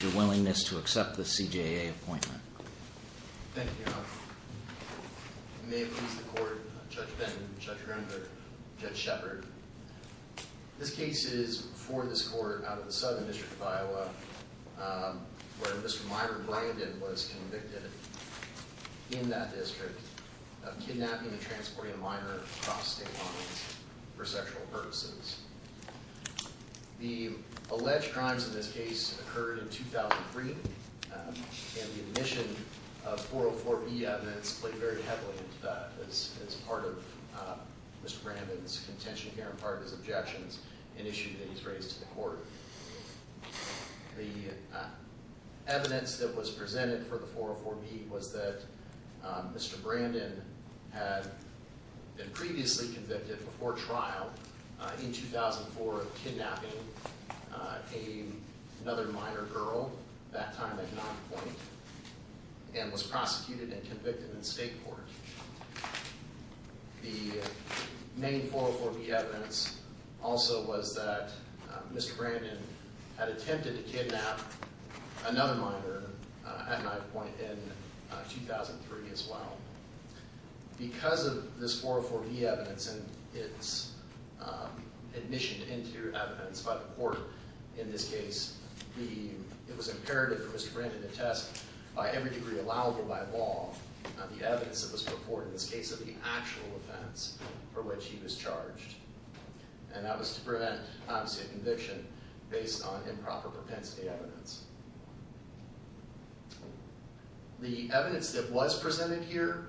Your willingness to accept the CJA appointment. Thank you. May it please the court. Judge Benton, Judge Render, Judge Shepard. This case is for this court out of the Southern District of Iowa where Mr. Myron Brandon was convicted in that district of kidnapping and transporting a minor across state lines for sexual purposes. The alleged crimes in this case occurred in 2003 and the admission of 404B evidence played very heavily into that as part of Mr. Brandon's contention here and part of his objections an issue that he's raised to the court. The evidence that was presented for the 404B was that Mr. Brandon in 2004 of kidnapping another minor girl that time at 9 point and was prosecuted and convicted in state court. The main 404B evidence also was that Mr. Brandon had attempted to kidnap another minor at 9 point in 2003 as well because of this 404B evidence and its admission into evidence by the court in this case. It was imperative for Mr. Brandon to test by every degree allowable by law the evidence that was purported in this case of the actual offense for which he was charged and that was to prevent obviously a conviction based on improper propensity evidence. The evidence that was presented here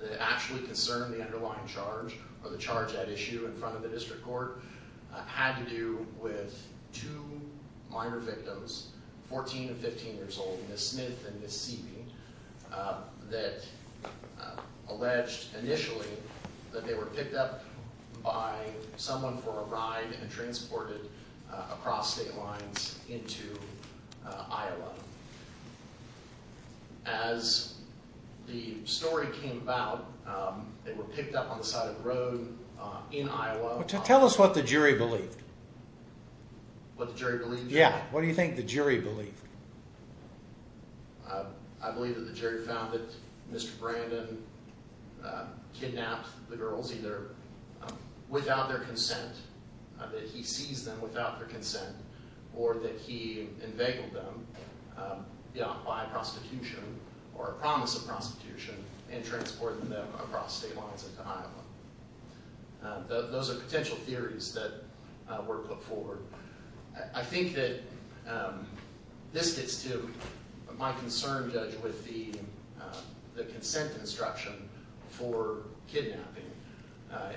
that actually concerned the underlying charge or the charge at issue in front of the district court had to do with two minor victims, 14 and 15 years old, Ms. Smith and Ms. Seeping, that alleged initially that they were picked up by someone for a ride and transported across state lines into Iowa. As the story came about, they were picked up on the side of the street. Tell us what the jury believed. What the jury believed? Yeah. What do you think the jury believed? I believe that the jury found that Mr. Brandon kidnapped the girls either without their consent, that he seized them without their consent, or that he enveigled them by a prosecution or a promise of prosecution and transported them across state lines into Iowa. Those are potential theories that were put forward. I think that this gets to my concern, Judge, with the consent instruction for kidnapping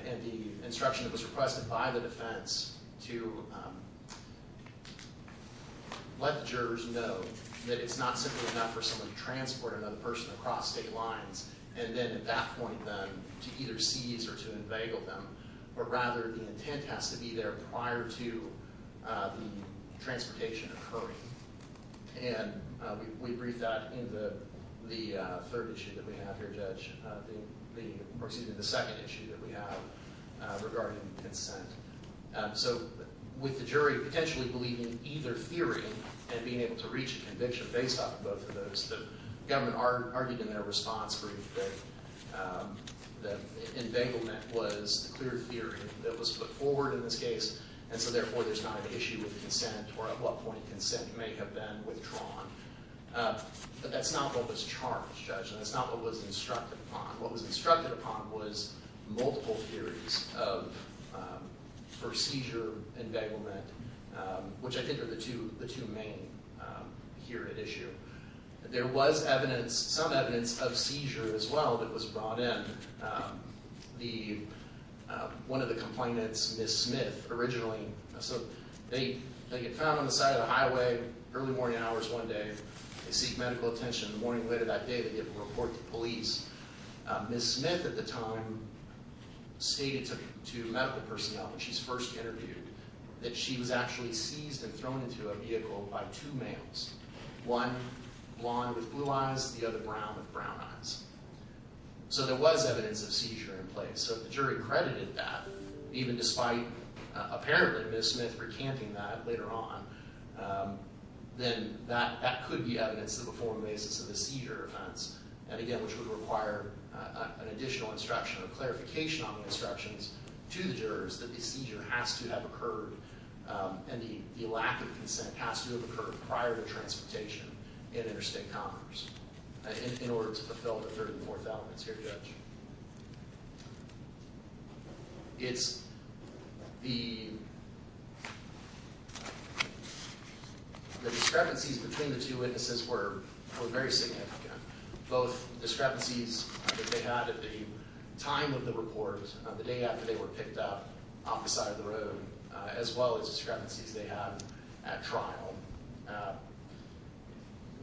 and the instruction that was requested by the defense to let the jurors know that it's not simply enough for someone to transport another person across state lines and then at that point then to either seize or to enveigle them, but rather the intent has to be there prior to the transportation occurring. And we briefed that in the third issue that we have here, Judge, or excuse me, the second issue that we have regarding consent. So with the jury potentially believing either theory and being able to reach a conviction based off of both of those, the enveiglement was the clear theory that was put forward in this case, and so therefore there's not an issue with consent or at what point consent may have been withdrawn. But that's not what was charged, Judge, and that's not what was instructed upon. What was instructed upon was multiple theories of, for seizure enveiglement, which I think are the two main here at issue. There was evidence, some evidence of seizure as well that was brought in. One of the complainants, Ms. Smith, originally, so they get found on the side of the highway, early morning hours one day, they seek medical attention. The morning later that day they get a report to police. Ms. Smith at the time stated to medical personnel that she's first interviewed that she was actually seized and thrown into a vehicle by two males. One blonde with blue eyes, the other brown with brown eyes. So there was evidence of seizure in place. So the jury credited that even despite apparently Ms. Smith recanting that later on, then that could be evidence of a formal basis of a seizure offense. And again, which would require an additional instruction or clarification on the instructions to the jurors that a seizure has to have occurred and the lack of consent has to have occurred prior to transportation in interstate commerce in order to fulfill the third and fourth elements here, Judge. It's the the discrepancies between the two witnesses were very significant. Both discrepancies that they had at the time of the report, the day after they were picked up off the side of the road, as well as discrepancies they had at trial.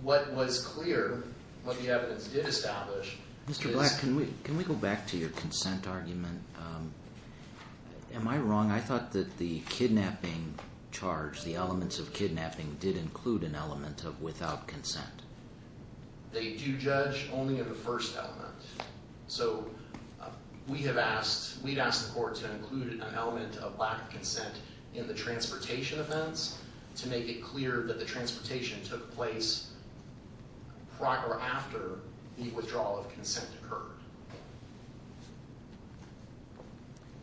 What was clear, what the evidence did establish. Mr. Black, can we go back to your consent argument? Am I wrong? I thought that the kidnapping charge, the elements of kidnapping did include an element of without consent. They do judge only in the first element. So we have asked, we've asked the court to include an element of lack of consent in the transportation offense to make it clear that the transportation took place after the withdrawal of consent occurred.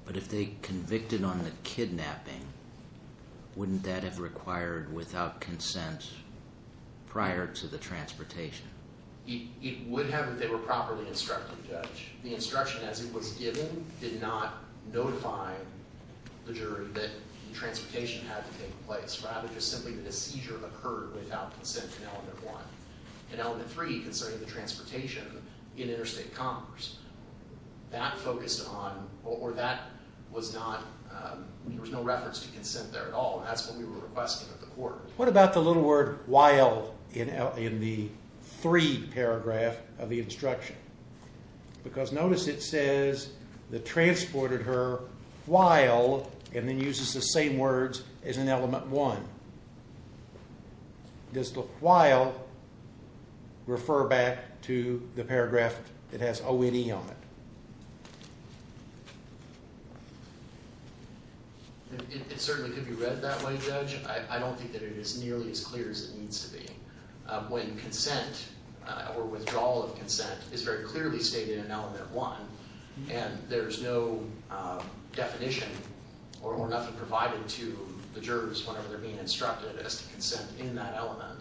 But if they convicted on the kidnapping, wouldn't that have required without consent prior to the transportation? It would have if they were properly instructed, Judge. The instruction as it was given did not notify the jury that the transportation had to take place, rather just simply that a seizure occurred without consent in element one. In element three, concerning the transportation in interstate commerce, that focused on, or that was not, there was no reference to consent there at all. That's what we were requesting of the court. What about the little word while in the three paragraph of the instruction? Because notice it says the transported her while and then uses the same words as in element one. Does the while refer back to the paragraph that has ONE on it? It certainly could be read that way, Judge. I don't think that it is nearly as clear as it needs to be. When consent or withdrawal of consent is very clearly stated in element one, and there's no definition or nothing provided to the jurors whenever they're being instructed as to consent in that element,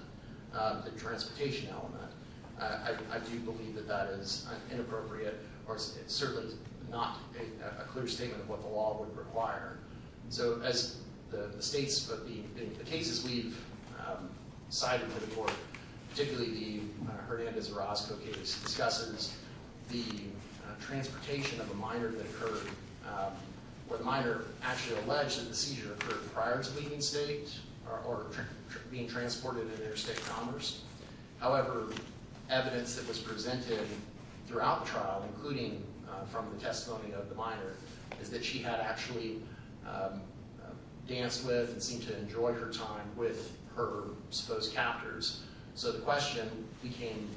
the transportation element, I do believe that that is inappropriate or certainly not a clear statement of what the law would require. So as the states, but the cases we've cited before, particularly the Hernandez-Orozco case, discusses the transportation of a minor that occurred, where the minor actually alleged that the seizure occurred prior to leaving state or being transported in interstate commerce. However, evidence that was presented throughout the trial, including from the testimony of the minor, is that she had actually danced with and seemed to enjoy her time with her supposed captors. So the question became,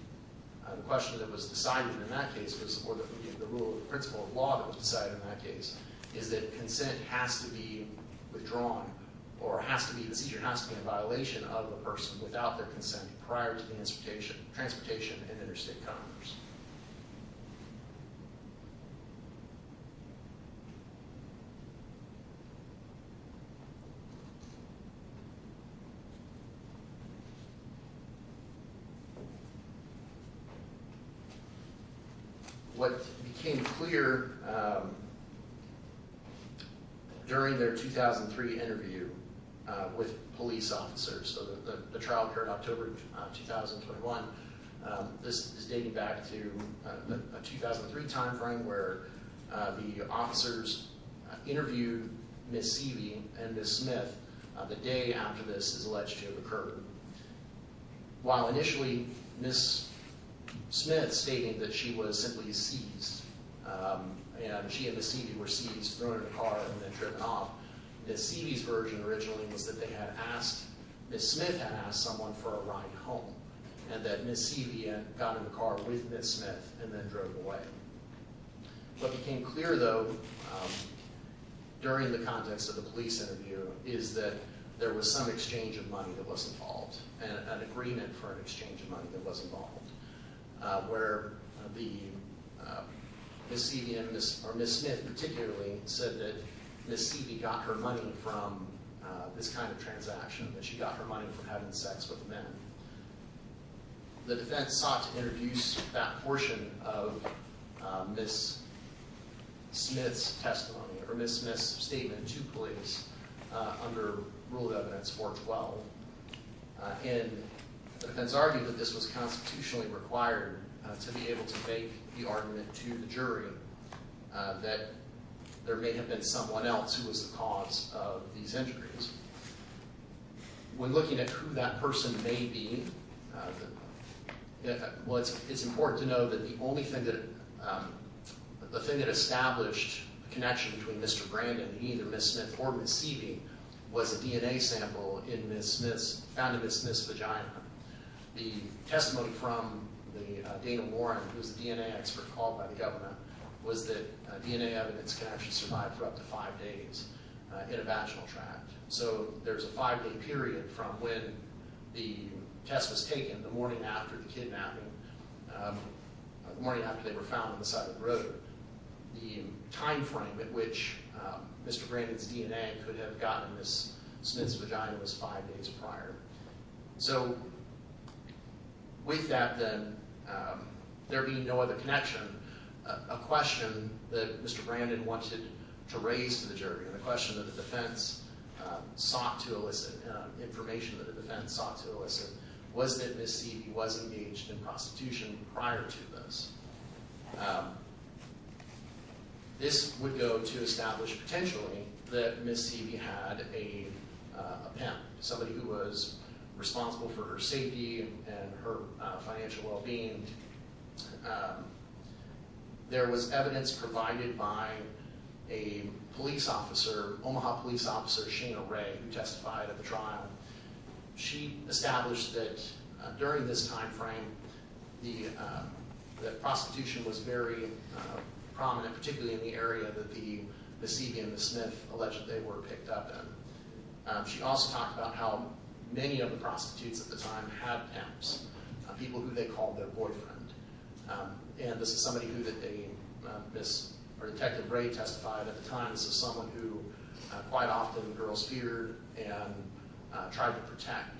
the question that was decided in that case was, or that we gave the rule of principle of law that was decided in that case, is that consent has to be withdrawn or has to be, the seizure has to be a violation of a person without their consent prior to transportation in interstate commerce. What became clear during their 2003 interview with police officers, so the trial occurred October 2021, this is dating back to a 2003 time where the officers interviewed Ms. Seavey and Ms. Smith the day after this is alleged to have occurred. While initially Ms. Smith stating that she was simply seized, and she and Ms. Seavey were seized, thrown in the car, and then driven off. Ms. Seavey's version originally was that they had asked, Ms. Smith had asked someone for a ride home. And that Ms. Seavey had gotten in the car with Ms. Smith and then drove away. What became clear though, during the context of the police interview, is that there was some exchange of money that was involved, and an agreement for an exchange of money that was involved. Where the Ms. Seavey, or Ms. Smith particularly, said that Ms. Seavey got her money from this kind of transaction, that she got her money from having sex with men. The defense sought to introduce that portion of Ms. Smith's testimony, or Ms. Smith's statement to police under Rule of Evidence 412. And the defense argued that this was constitutionally required to be able to make the argument to the jury that there may have been someone else who was the cause of these injuries. When looking at who that person may be, it's important to know that the only thing that established a connection between Mr. Brandon and either Ms. Smith or Ms. Seavey was a DNA sample found in Ms. Smith's vagina. The testimony from Dana Warren, who was the DNA expert called by the government, was that DNA evidence can actually survive for up to five days in a vaginal tract. So there's a five-day period from when the test was taken, the morning after the kidnapping, the morning after they were found on the side of the road. The time frame at which Mr. Brandon's DNA could have gotten in Ms. Smith's vagina was five days prior. So with that then, there being no other connection, a question that Mr. Brandon wanted to raise to the jury, and a question that the defense sought to elicit, information that the defense sought to elicit, was that Ms. Seavey was engaged in prostitution prior to this. This would go to establish potentially that Ms. Seavey had a pimp, somebody who was responsible for her safety and her financial well-being. There was evidence provided by a police officer, Omaha police officer, Sheena Ray, who testified at the trial. She established that during this time frame, that prostitution was very prominent, particularly in the area that Ms. Seavey and Ms. Smith alleged they were picked up in. She also talked about how many of the prostitutes at the time had pimps, people who they called their boyfriend. And this is somebody who they, Ms., or Detective Ray testified at the time, this is someone who quite often girls feared and tried to protect.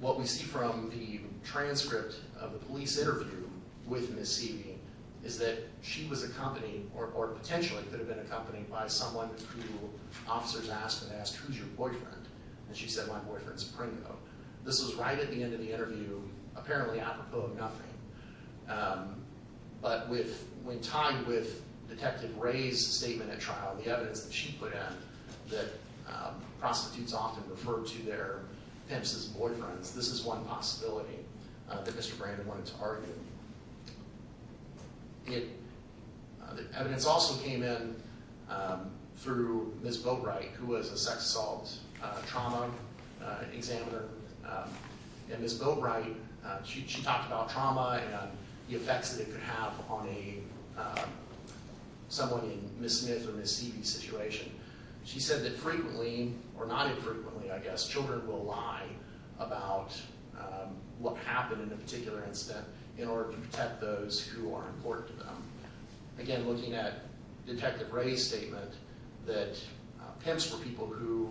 What we see from the transcript of the police interview with Ms. Seavey is that she was accompanied, or potentially could have been accompanied, by someone who officers asked, they asked, who's your boyfriend? And she said, my boyfriend's a primo. This was right at the end of the interview, apparently apropos of nothing. But when tied with Detective Ray's statement at trial, the evidence that she put in, that prostitutes often refer to their pimps as boyfriends, this is one possibility that Mr. Brandon wanted to argue. Evidence also came in through Ms. Boatwright, who was a sex assault trauma examiner. And Ms. Boatwright, she talked about trauma and the effects that it could have on someone in Ms. Smith or Ms. Seavey's situation. She said that frequently, or not infrequently I guess, children will lie about what happened in a particular incident in order to protect those who are important to them. Again, looking at Detective Ray's statement, that pimps were people who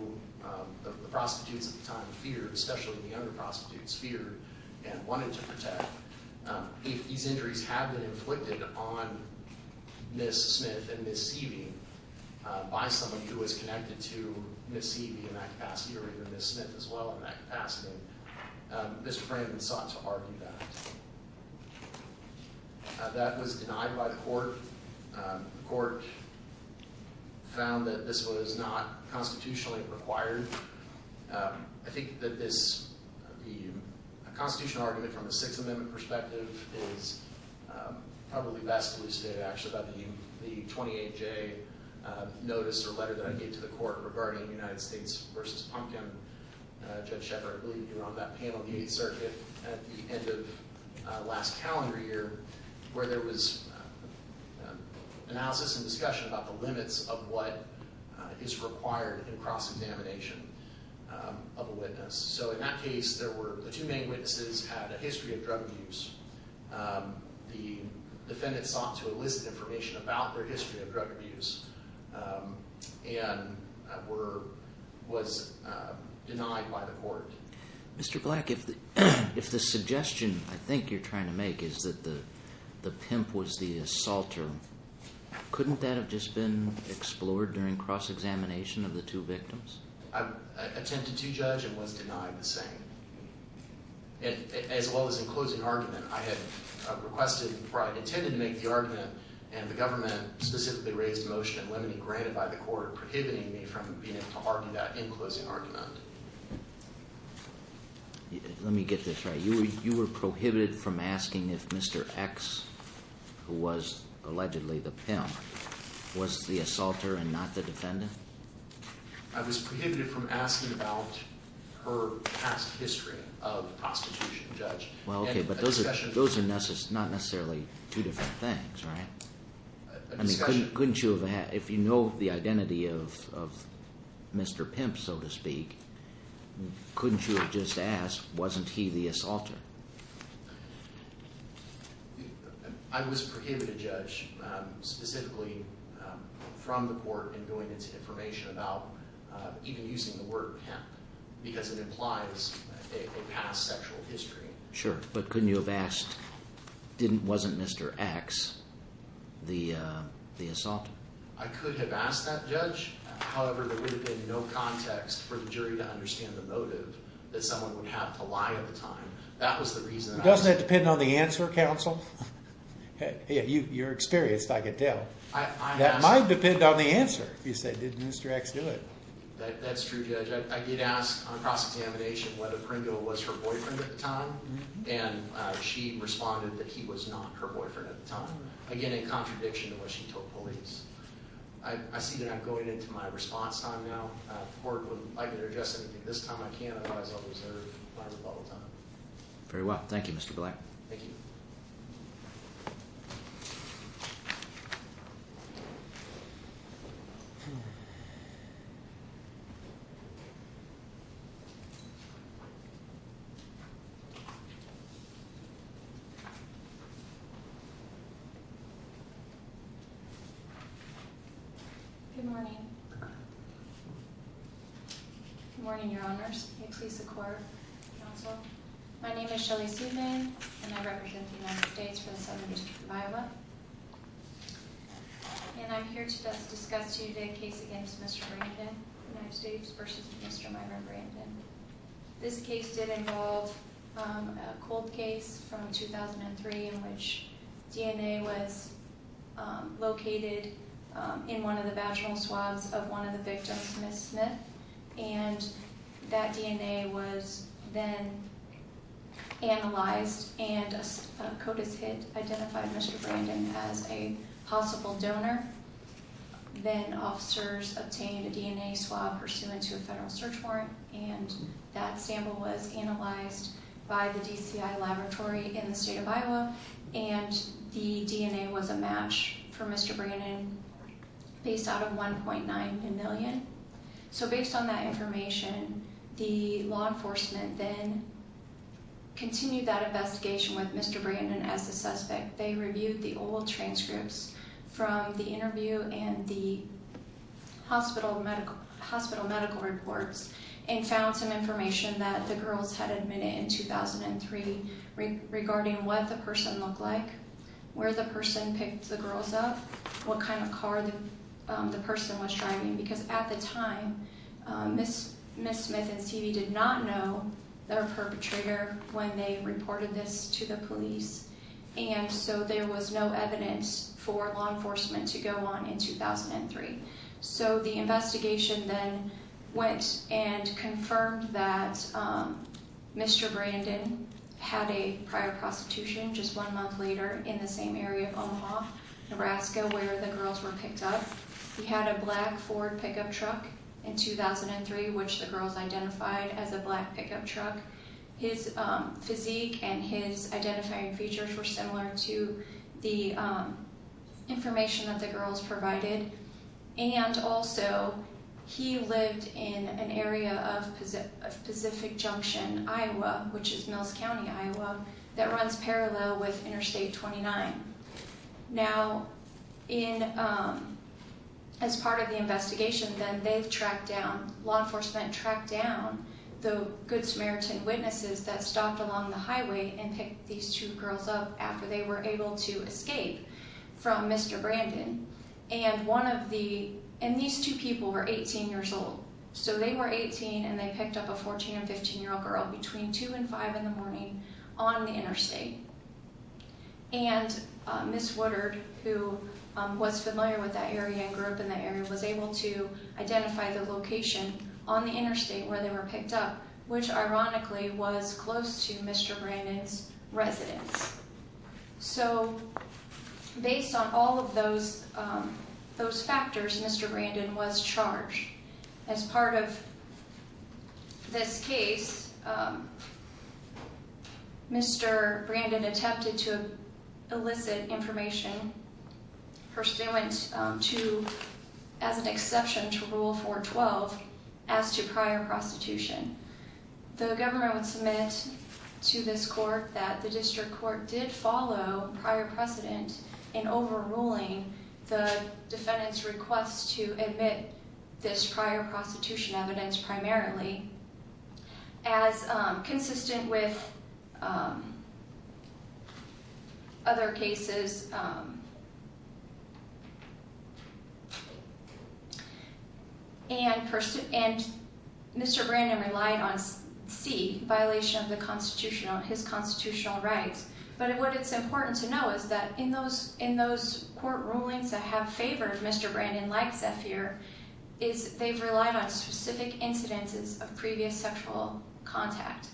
the prostitutes at the time feared, especially the younger prostitutes feared and wanted to protect. If these injuries had been inflicted on Ms. Smith and Ms. Seavey by someone who was connected to Ms. Seavey in that capacity, or even Ms. Smith as well in that capacity, Mr. Brandon sought to argue that. That was denied by the court. The court found that this was not constitutionally required. I think that this, a constitutional argument from a Sixth Amendment perspective is probably best elucidated actually by the 28-J notice or letter that I gave to the court regarding United States v. Pumpkin. Judge Shepard, I believe you were on that panel at the 8th Circuit at the end of last calendar year, where there was analysis and discussion about the limits of what is required in cross-examination of a witness. In that case, the two main witnesses had a history of drug abuse. The defendant sought to elicit information about their history of drug abuse and was denied by the court. Mr. Black, if the suggestion I think you're trying to make is that the pimp was the assaulter, couldn't that have just been explored during cross-examination of the two victims? I attempted to judge and was denied the same. As well as in closing argument, I had requested, or I intended to make the argument, and the government specifically raised the motion and let it be granted by the court, prohibiting me from being able to argue that in closing argument. Let me get this right. You were prohibited from asking if Mr. X, who was allegedly the pimp, was the assaulter and not the defendant? I was prohibited from asking about her past history of prostitution, Judge. Well, okay, but those are not necessarily two different things, right? I mean, couldn't you have, if you know the identity of Mr. Pimp, so to speak, couldn't you have just asked, wasn't he the assaulter? I was prohibited, Judge, specifically from the court in going into information about, even using the word pimp, because it implies a past sexual history. Sure, but couldn't you have asked, wasn't Mr. X the assaulter? I could have asked that, Judge. However, there would have been no context for the jury to understand the motive that someone would have to lie at the time. That was the reason. Doesn't that depend on the answer, Counsel? You're experienced, I can tell. That might depend on the answer. If you say, did Mr. X do it? That's true, Judge. I did ask on cross-examination whether Pringle was her boyfriend at the time, and she responded that he was not her boyfriend at the time. Again, in contradiction to what she told police. I see that I'm going into my response time now. If the court would like to address anything this time, I can. Otherwise, I'll reserve my rebuttal time. Very well. Thank you, Mr. Black. Thank you. Good morning. Good morning, Your Honors. May it please the Court, Counsel. My name is Shelly Sudman, and I represent the United States for the Southern District of Iowa. And I'm here to discuss to you the case against Mr. Brandon, United States, versus Mr. Myron Brandon. This case did involve a cold case from 2003 in which DNA was located in one of the vaginal swabs of one of the victims, Ms. Smith. And that DNA was then analyzed, and a CODIS hit identified Mr. Brandon as a possible donor. Then officers obtained a DNA swab pursuant to a federal search warrant, and that sample was analyzed by the DCI Laboratory in the state of Iowa, and the DNA was a match for Mr. Brandon based out of 1.9 million. So based on that information, the law enforcement then continued that investigation with Mr. Brandon as the suspect. They reviewed the old transcripts from the interview and the hospital medical reports and found some information that the girls had admitted in 2003 regarding what the person looked like, where the person picked the girls up, what kind of car the person was driving, because at the time Ms. Smith and Stevie did not know their perpetrator when they reported this to the police, and so there was no evidence for law enforcement to go on in 2003. So the investigation then went and confirmed that Mr. Brandon had a prior prostitution just one month later in the same area of Omaha, Nebraska, where the girls were picked up. He had a black Ford pickup truck in 2003, which the girls identified as a black pickup truck. His physique and his identifying features were similar to the information that the girls provided, and also he lived in an area of Pacific Junction, Iowa, which is Mills County, Iowa, that runs parallel with Interstate 29. Now, in, um, as part of the investigation then, they've tracked down, law enforcement tracked down the Good Samaritan witnesses that stopped along the highway and picked these two girls up after they were able to escape from Mr. Brandon, and one of the, and these two people were 18 years old, so they were 18 and they picked up a 14 and 15 year old girl between 2 and 5 in the morning on the interstate. And Miss Woodard, who was familiar with that area and grew up in that area, was able to identify the location on the interstate where they were picked up, which ironically was close to Mr. Brandon's residence. So, based on all of those, um, those factors, Mr. Brandon was charged. As part of this case, um, Mr. Brandon attempted to elicit information pursuant to, as an exception to Rule 412, as to prior prostitution. The government would submit to this court that the district court did follow prior precedent in overruling the defendant's request to admit this prior prostitution evidence primarily, as consistent with um, other cases, um, and Mr. Brandon relied on C, violation of his constitutional rights. But what it's important to know is that in those court rulings that have favored Mr. Brandon like Zephyr is they've relied on specific incidences of previous sexual contact.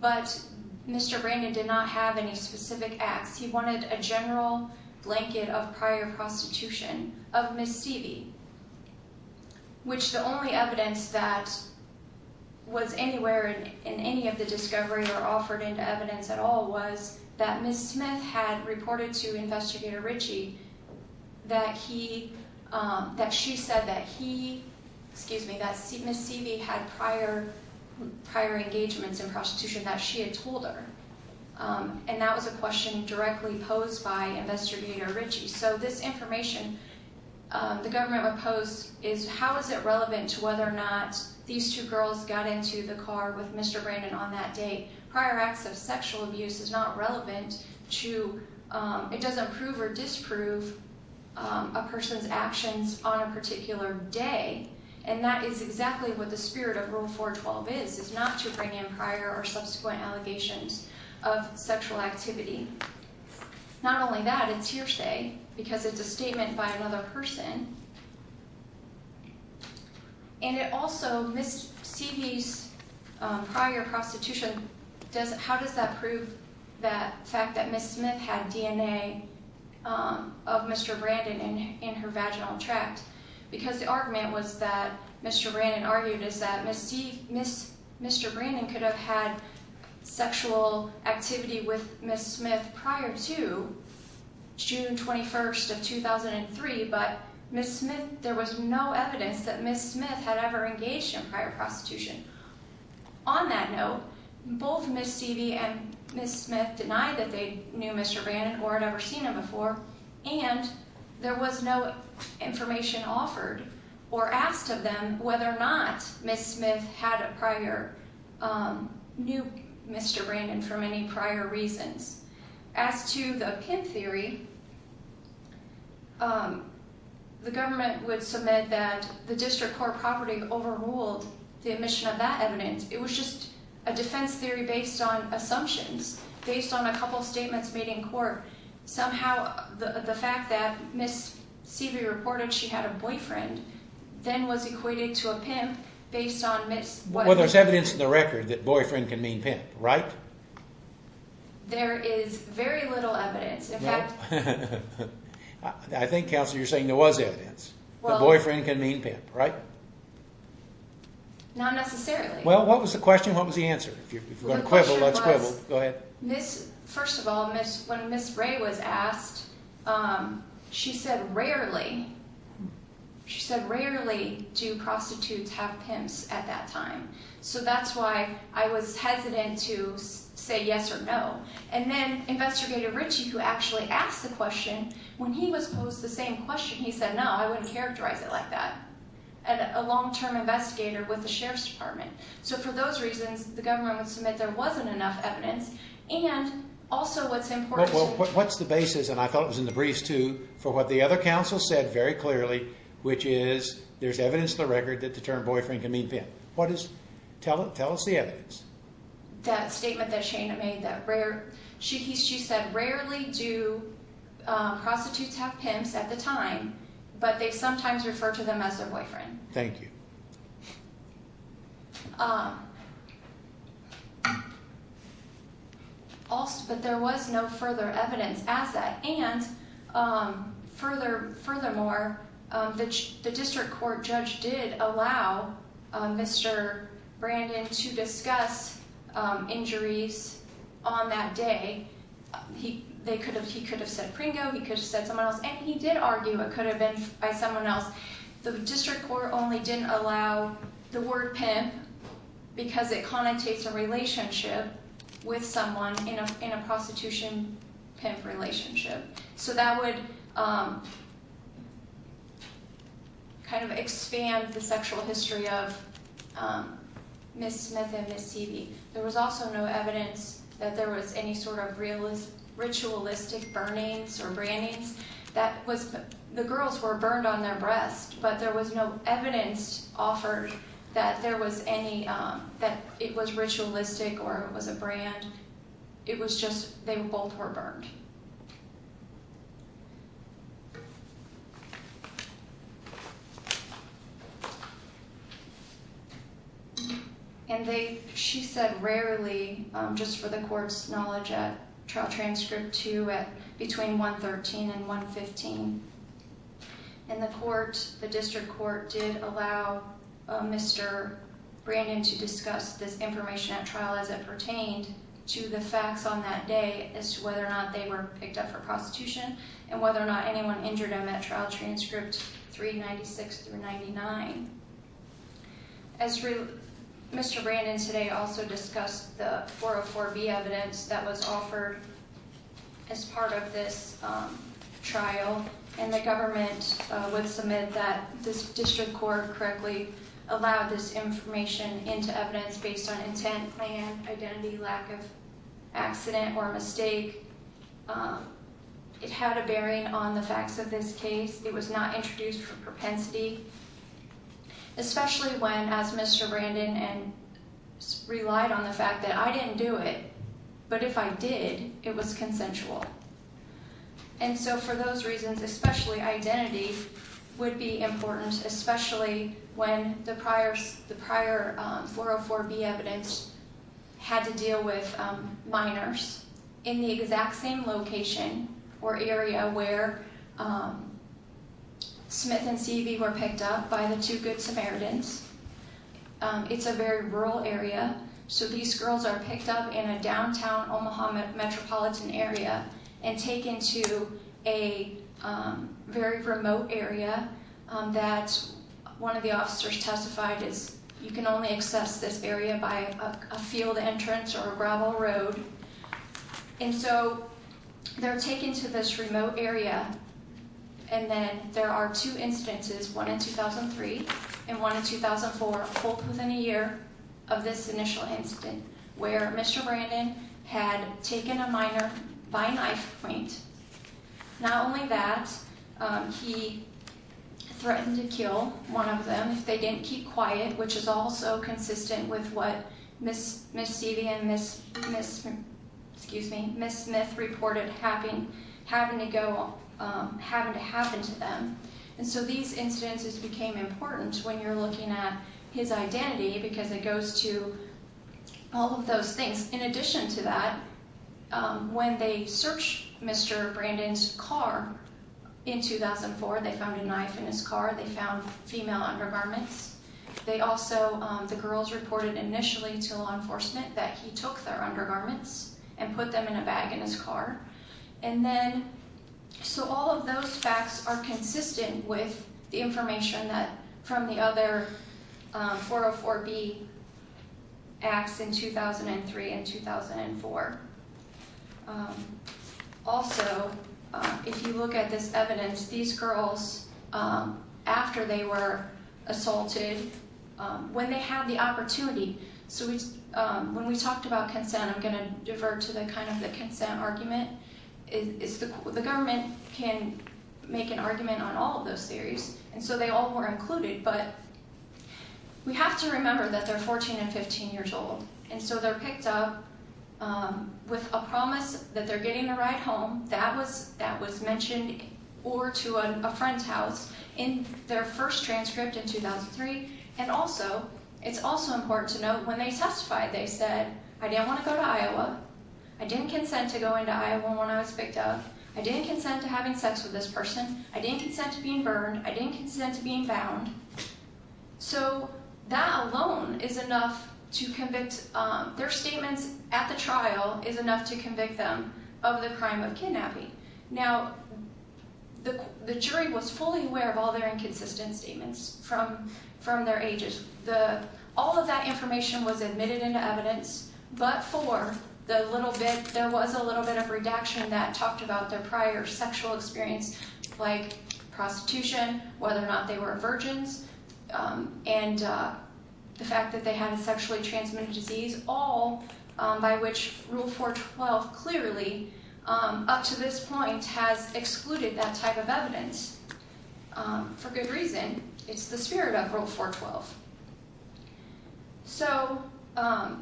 But Mr. Brandon did not have any specific acts. He wanted a general blanket of prior prostitution of Ms. Stevie, which the only evidence that was anywhere in any of the discovery or offered into evidence at all was that Ms. Smith had reported to Investigator Ritchie that he, um, that she said that he, excuse me, that Ms. Stevie had prior engagements in prostitution that she had told her. Um, and that was a question directly posed by Investigator Ritchie. So this information um, the government would pose is how is it relevant to whether or not these two girls got into the car with Mr. Brandon on that date. Prior acts of sexual abuse is not relevant to, um, it doesn't prove or disprove um, a person's actions on a particular day and that is exactly what the spirit of Rule 412 is, is not to bring in prior or subsequent allegations of sexual activity. Not only that, it's hearsay because it's a statement by another person. And it also, Ms. Stevie's um, prior prostitution does, how does that prove the fact that Ms. Smith had DNA um, of Mr. Brandon in her vaginal tract because the argument was that Mr. Brandon argued is that Ms. Stevie, Mr. Brandon could have had sexual activity with Ms. Smith prior to June 21st of 2003 but Ms. Smith, there was no evidence that Ms. Smith had ever engaged in prior prostitution. On that note, both Ms. Stevie and Ms. Smith denied that they knew Mr. Brandon or had ever seen him before and there was no information offered or asked of them whether or not Ms. Smith had a prior, um, knew Mr. Brandon for any prior reasons. As to the PIM theory, um, the government would submit that the district court property overruled the admission of that evidence. It was just a defense theory based on assumptions, based on a couple statements made in court. Somehow, the fact that Ms. Stevie reported she had a boyfriend, then was equated to a PIM based on Ms. Well, there's evidence in the record that boyfriend can mean PIM, right? There is very little evidence, in fact... I think, Counselor, you're saying there was evidence that boyfriend can mean PIM, right? Not necessarily. Well, what was the question, what was the answer? If you're going to quibble, let's quibble. Go ahead. First of all, when Ms. Ray was asked, um, she said, rarely, she said, rarely do prostitutes have PIMs at that time. So that's why I was hesitant to say yes or no. And then, Investigator Ritchie, who actually asked the question, when he was posed the same question, he said, no, I wouldn't characterize it like that. A long-term investigator with the Sheriff's Department. So for those reasons, the government would submit there wasn't enough evidence. And, also, what's important... What's the basis, and I thought it was in the briefs too, for what the other Counsel said very clearly, which is there's evidence in the record that the term boyfriend can mean PIM. What is... Tell us the evidence. That statement that Shayna made, that rare... She said, rarely do prostitutes have PIMs at the time, but they sometimes refer to them as their boyfriend. Thank you. Also, but there was no further evidence as that, and furthermore, the District Court judge did allow Mr. Brandon to discuss injuries on that day. He could have said Pringo, he could have said someone else, and he did argue it could have been by someone else. The District Court only didn't allow the word PIM because it connotates a relationship with someone in a prostitution PIM relationship. So that would expand the sexual history of Ms. Smith and Ms. Seavey. There was also no evidence that there was any sort of ritualistic burnings or brandings. That was... The girls were burned on their breasts, but there was no evidence offered that there was any... that it was ritualistic or it was a brand. It was just they both were burned. She said, rarely, just for the Court's knowledge, at Trial Transcript 2 at between 113 and 115. And the Court, the District Court, did allow Mr. Brandon to discuss this information at trial as it pertained to the facts on that day as to whether or not they were picked up for prostitution and whether or not anyone injured them at Trial Transcript 396 through 99. As Mr. Brandon today also discussed the 404B evidence that was offered as part of this trial. And the government would submit that the District Court correctly allowed this information into evidence based on intent, plan, identity, lack of accident or mistake. It had a bearing on the facts of this case. It was not introduced for propensity, especially when, as Mr. Brandon relied on the fact that I didn't do it, but if I did, it was consensual. And so for those reasons, especially identity, would be important, especially when the prior 404B evidence had to deal with minors in the exact same location or area where Smith and Seavey were arrested. It's a very rural area. So these girls are picked up in a downtown Omaha metropolitan area and taken to a very remote area that one of the officers testified is you can only access this area by a field entrance or a gravel road. And so they're taken to this remote area and then there are two instances, one in 2003 and one in 2004, both within a year of this initial incident where Mr. Brandon had taken a minor by knife point. Not only that, he threatened to kill one of them if they didn't keep quiet, which is also consistent with what Ms. Seavey and Ms. Smith reported having to go having to happen to them. And so these instances became important when you're looking at his identity because it goes to all of those things. In addition to that, when they searched Mr. Brandon's car in 2004, they found a knife in his car. They found female undergarments. They also, the girls reported initially to law enforcement that he took their undergarments and put them in a bag in his car. And then, so all of those facts are consistent with the information that from the other 404B acts in 2003 and 2004. Also, if you look at this evidence, these girls, after they were assaulted, when they had the opportunity, so when we talked about consent, I'm going to go back to the consent argument, the government can make an argument on all of those theories, and so they all were included, but we have to remember that they're 14 and 15 years old, and so they're picked up with a promise that they're getting a ride home. That was mentioned, or to a friend's house, in their first transcript in 2003. And also, it's also important to note, when they testified, they said I didn't want to go to Iowa, I didn't consent to going to Iowa when I was picked up, I didn't consent to having sex with this person, I didn't consent to being burned, I didn't consent to being bound. So, that alone is enough to convict their statements at the trial is enough to convict them of the crime of kidnapping. Now, the jury was fully aware of all their inconsistent statements from their ages. All of that but for the little bit there was a little bit of redaction that talked about their prior sexual experience like prostitution, whether or not they were virgins, and the fact that they had a sexually transmitted disease, all by which Rule 412 clearly up to this point has excluded that type of evidence for good reason. It's the spirit of Rule 412. So,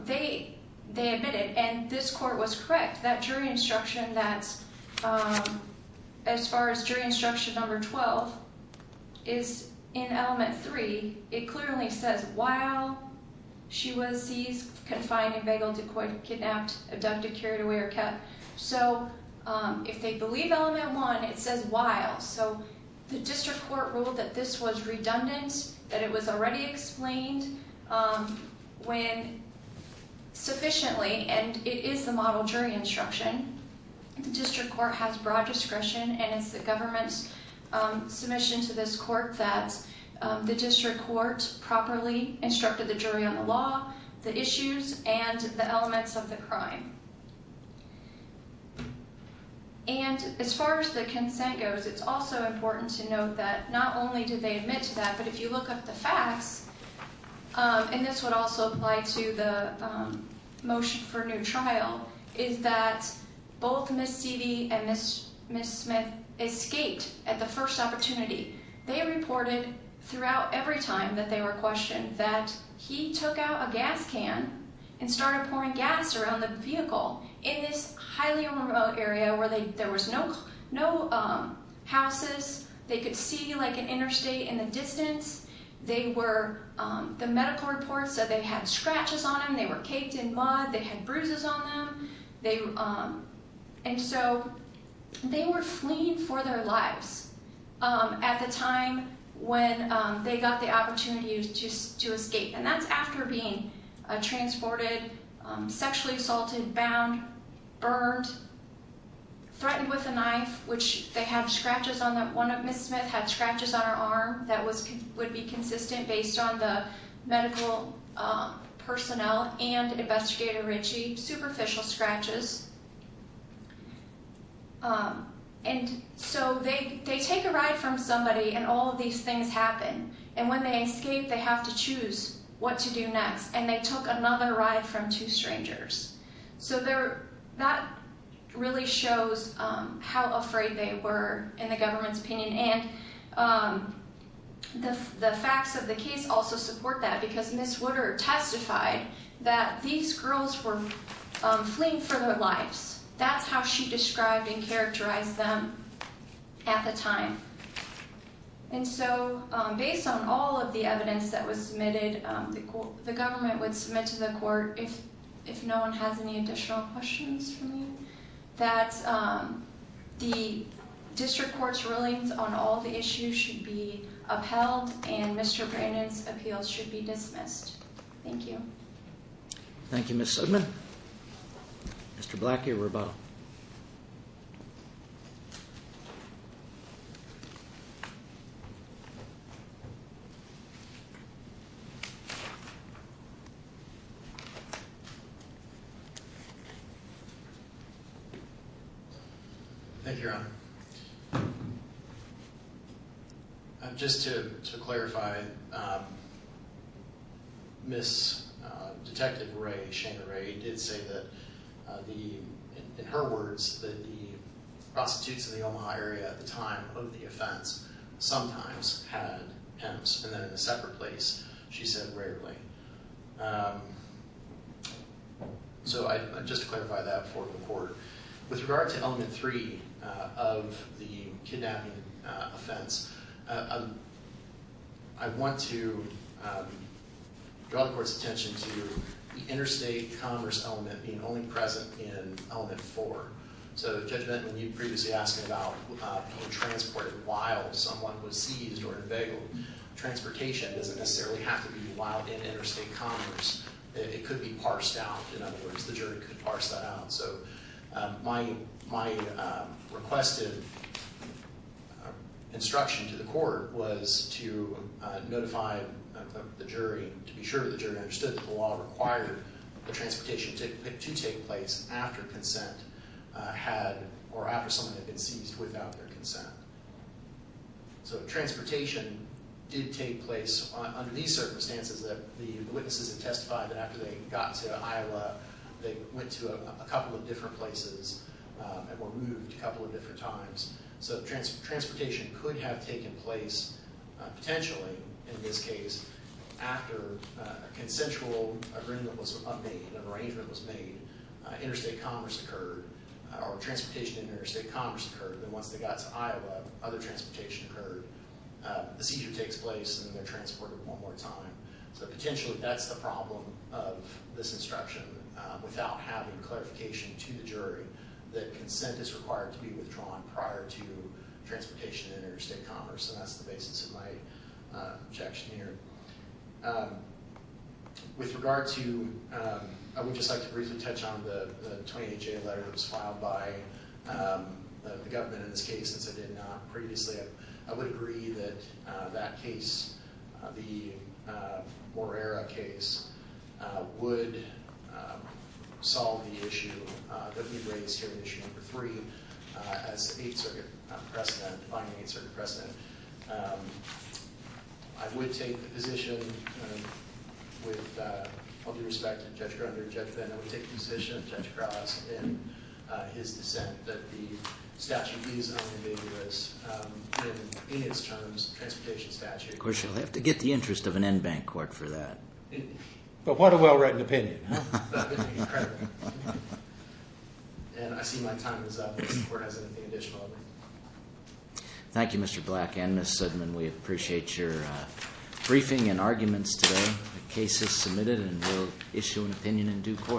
they admitted and this court was correct that jury instruction that as far as jury instruction number 12 is in element 3 it clearly says while she was seized, confined, and beguiled, decoyed, kidnapped, abducted, carried away, or kept. So, if they believe element 1 it says while. So, the district court ruled that this was redundant, that it was already explained when sufficiently and it is the model jury instruction. The district court has broad discretion and it's the government's submission to this court that the district court properly instructed the jury on the law, the issues, and the elements of the crime. And as far as the consent goes, it's also important to note that not only did they admit to that, but if you look up the facts and this would also apply to the motion for new trial, is that both Ms. Seedy and Ms. Smith escaped at the first opportunity. They reported throughout every time that they were questioned that he took out a gas can and started pouring gas around the vehicle in this highly remote area where there was no houses. They could see an interstate in the distance. The medical report said they had scratches on them, they were caked in mud, they had bruises on them. And so, they were fleeing for their lives at the time when they got the opportunity to escape and that's after being transported, sexually assaulted, bound, burned, threatened with a knife which they have scratches on them. One of Ms. Smith had scratches on her arm that would be consistent based on the medical personnel and Investigator Ritchie, superficial scratches. And so, they take a ride from somebody and all of these things happen. And when they escape, they have to choose what to do next and they took another ride from two strangers. So, that really shows how afraid they were in the government's opinion and the facts of the case also support that because Ms. Woodard testified that these girls were fleeing for their lives. That's how she described and characterized them at the time. And so, based on all of the evidence that was submitted, the government would submit to the court, if no one has any additional questions for me, that the district court's rulings on all the issues should be upheld and Mr. Brannon's appeal should be dismissed. Thank you. Thank you, Ms. Sudman. Mr. Black, your rebuttal. Thank you, Your Honor. Just to clarify, Ms. Detective Ray, Shayna Ray, did say that in her words, that the prostitutes in the Omaha area at the time of the offense sometimes had pimps and then in a separate place, she said, rarely. So, just to clarify that for the court, with regard to Element 3 of the kidnapping offense, I want to draw the court's attention to the interstate commerce element being only present in Element 4. So, Judge Benton, when you were previously asking about being transported while someone was seized or unveiled, transportation doesn't necessarily have to be while in interstate commerce. It could be parsed out. In other words, the jury could parse that out. So, my requested instruction to the court was to notify the jury, to be sure the jury understood that the law required the transportation to take place after consent had, or after someone had been seized without their consent. So, transportation did take place under these circumstances that the witnesses have testified that after they got to Iowa, they went to a couple of different places and were moved a couple of different times. So, transportation could have taken place, potentially, in this case, after a consensual agreement was made, an arrangement was made, interstate commerce occurred, or transportation in interstate commerce occurred, and once they got to Iowa, other transportation occurred. The seizure takes place, and they're transported one more time. So, potentially, that's the problem of this instruction, without having clarification to the jury that consent is required to be withdrawn prior to transportation in interstate commerce, and that's the basis of my objection here. With regard to, I would just like to briefly touch on the 28J letter that was filed by the government in this case, since I did not previously. I would agree that that case, the Morera case, would solve the issue that we raised here in issue number three as the Eighth Circuit precedent, defining the Eighth Circuit precedent. I would take the all due respect to Judge Grunder and Judge Venn, I would take the position of Judge that the statute is in its terms a transportation statute. Of course, you'll have to get the interest of an en banc court for that. But what a well-written opinion. Incredible. And I see my time is up. Does the court have anything additional? Thank you, Mr. Black and Ms. Sudman. We appreciate your briefing and arguments today. The case is submitted, and we'll issue an opinion in due course.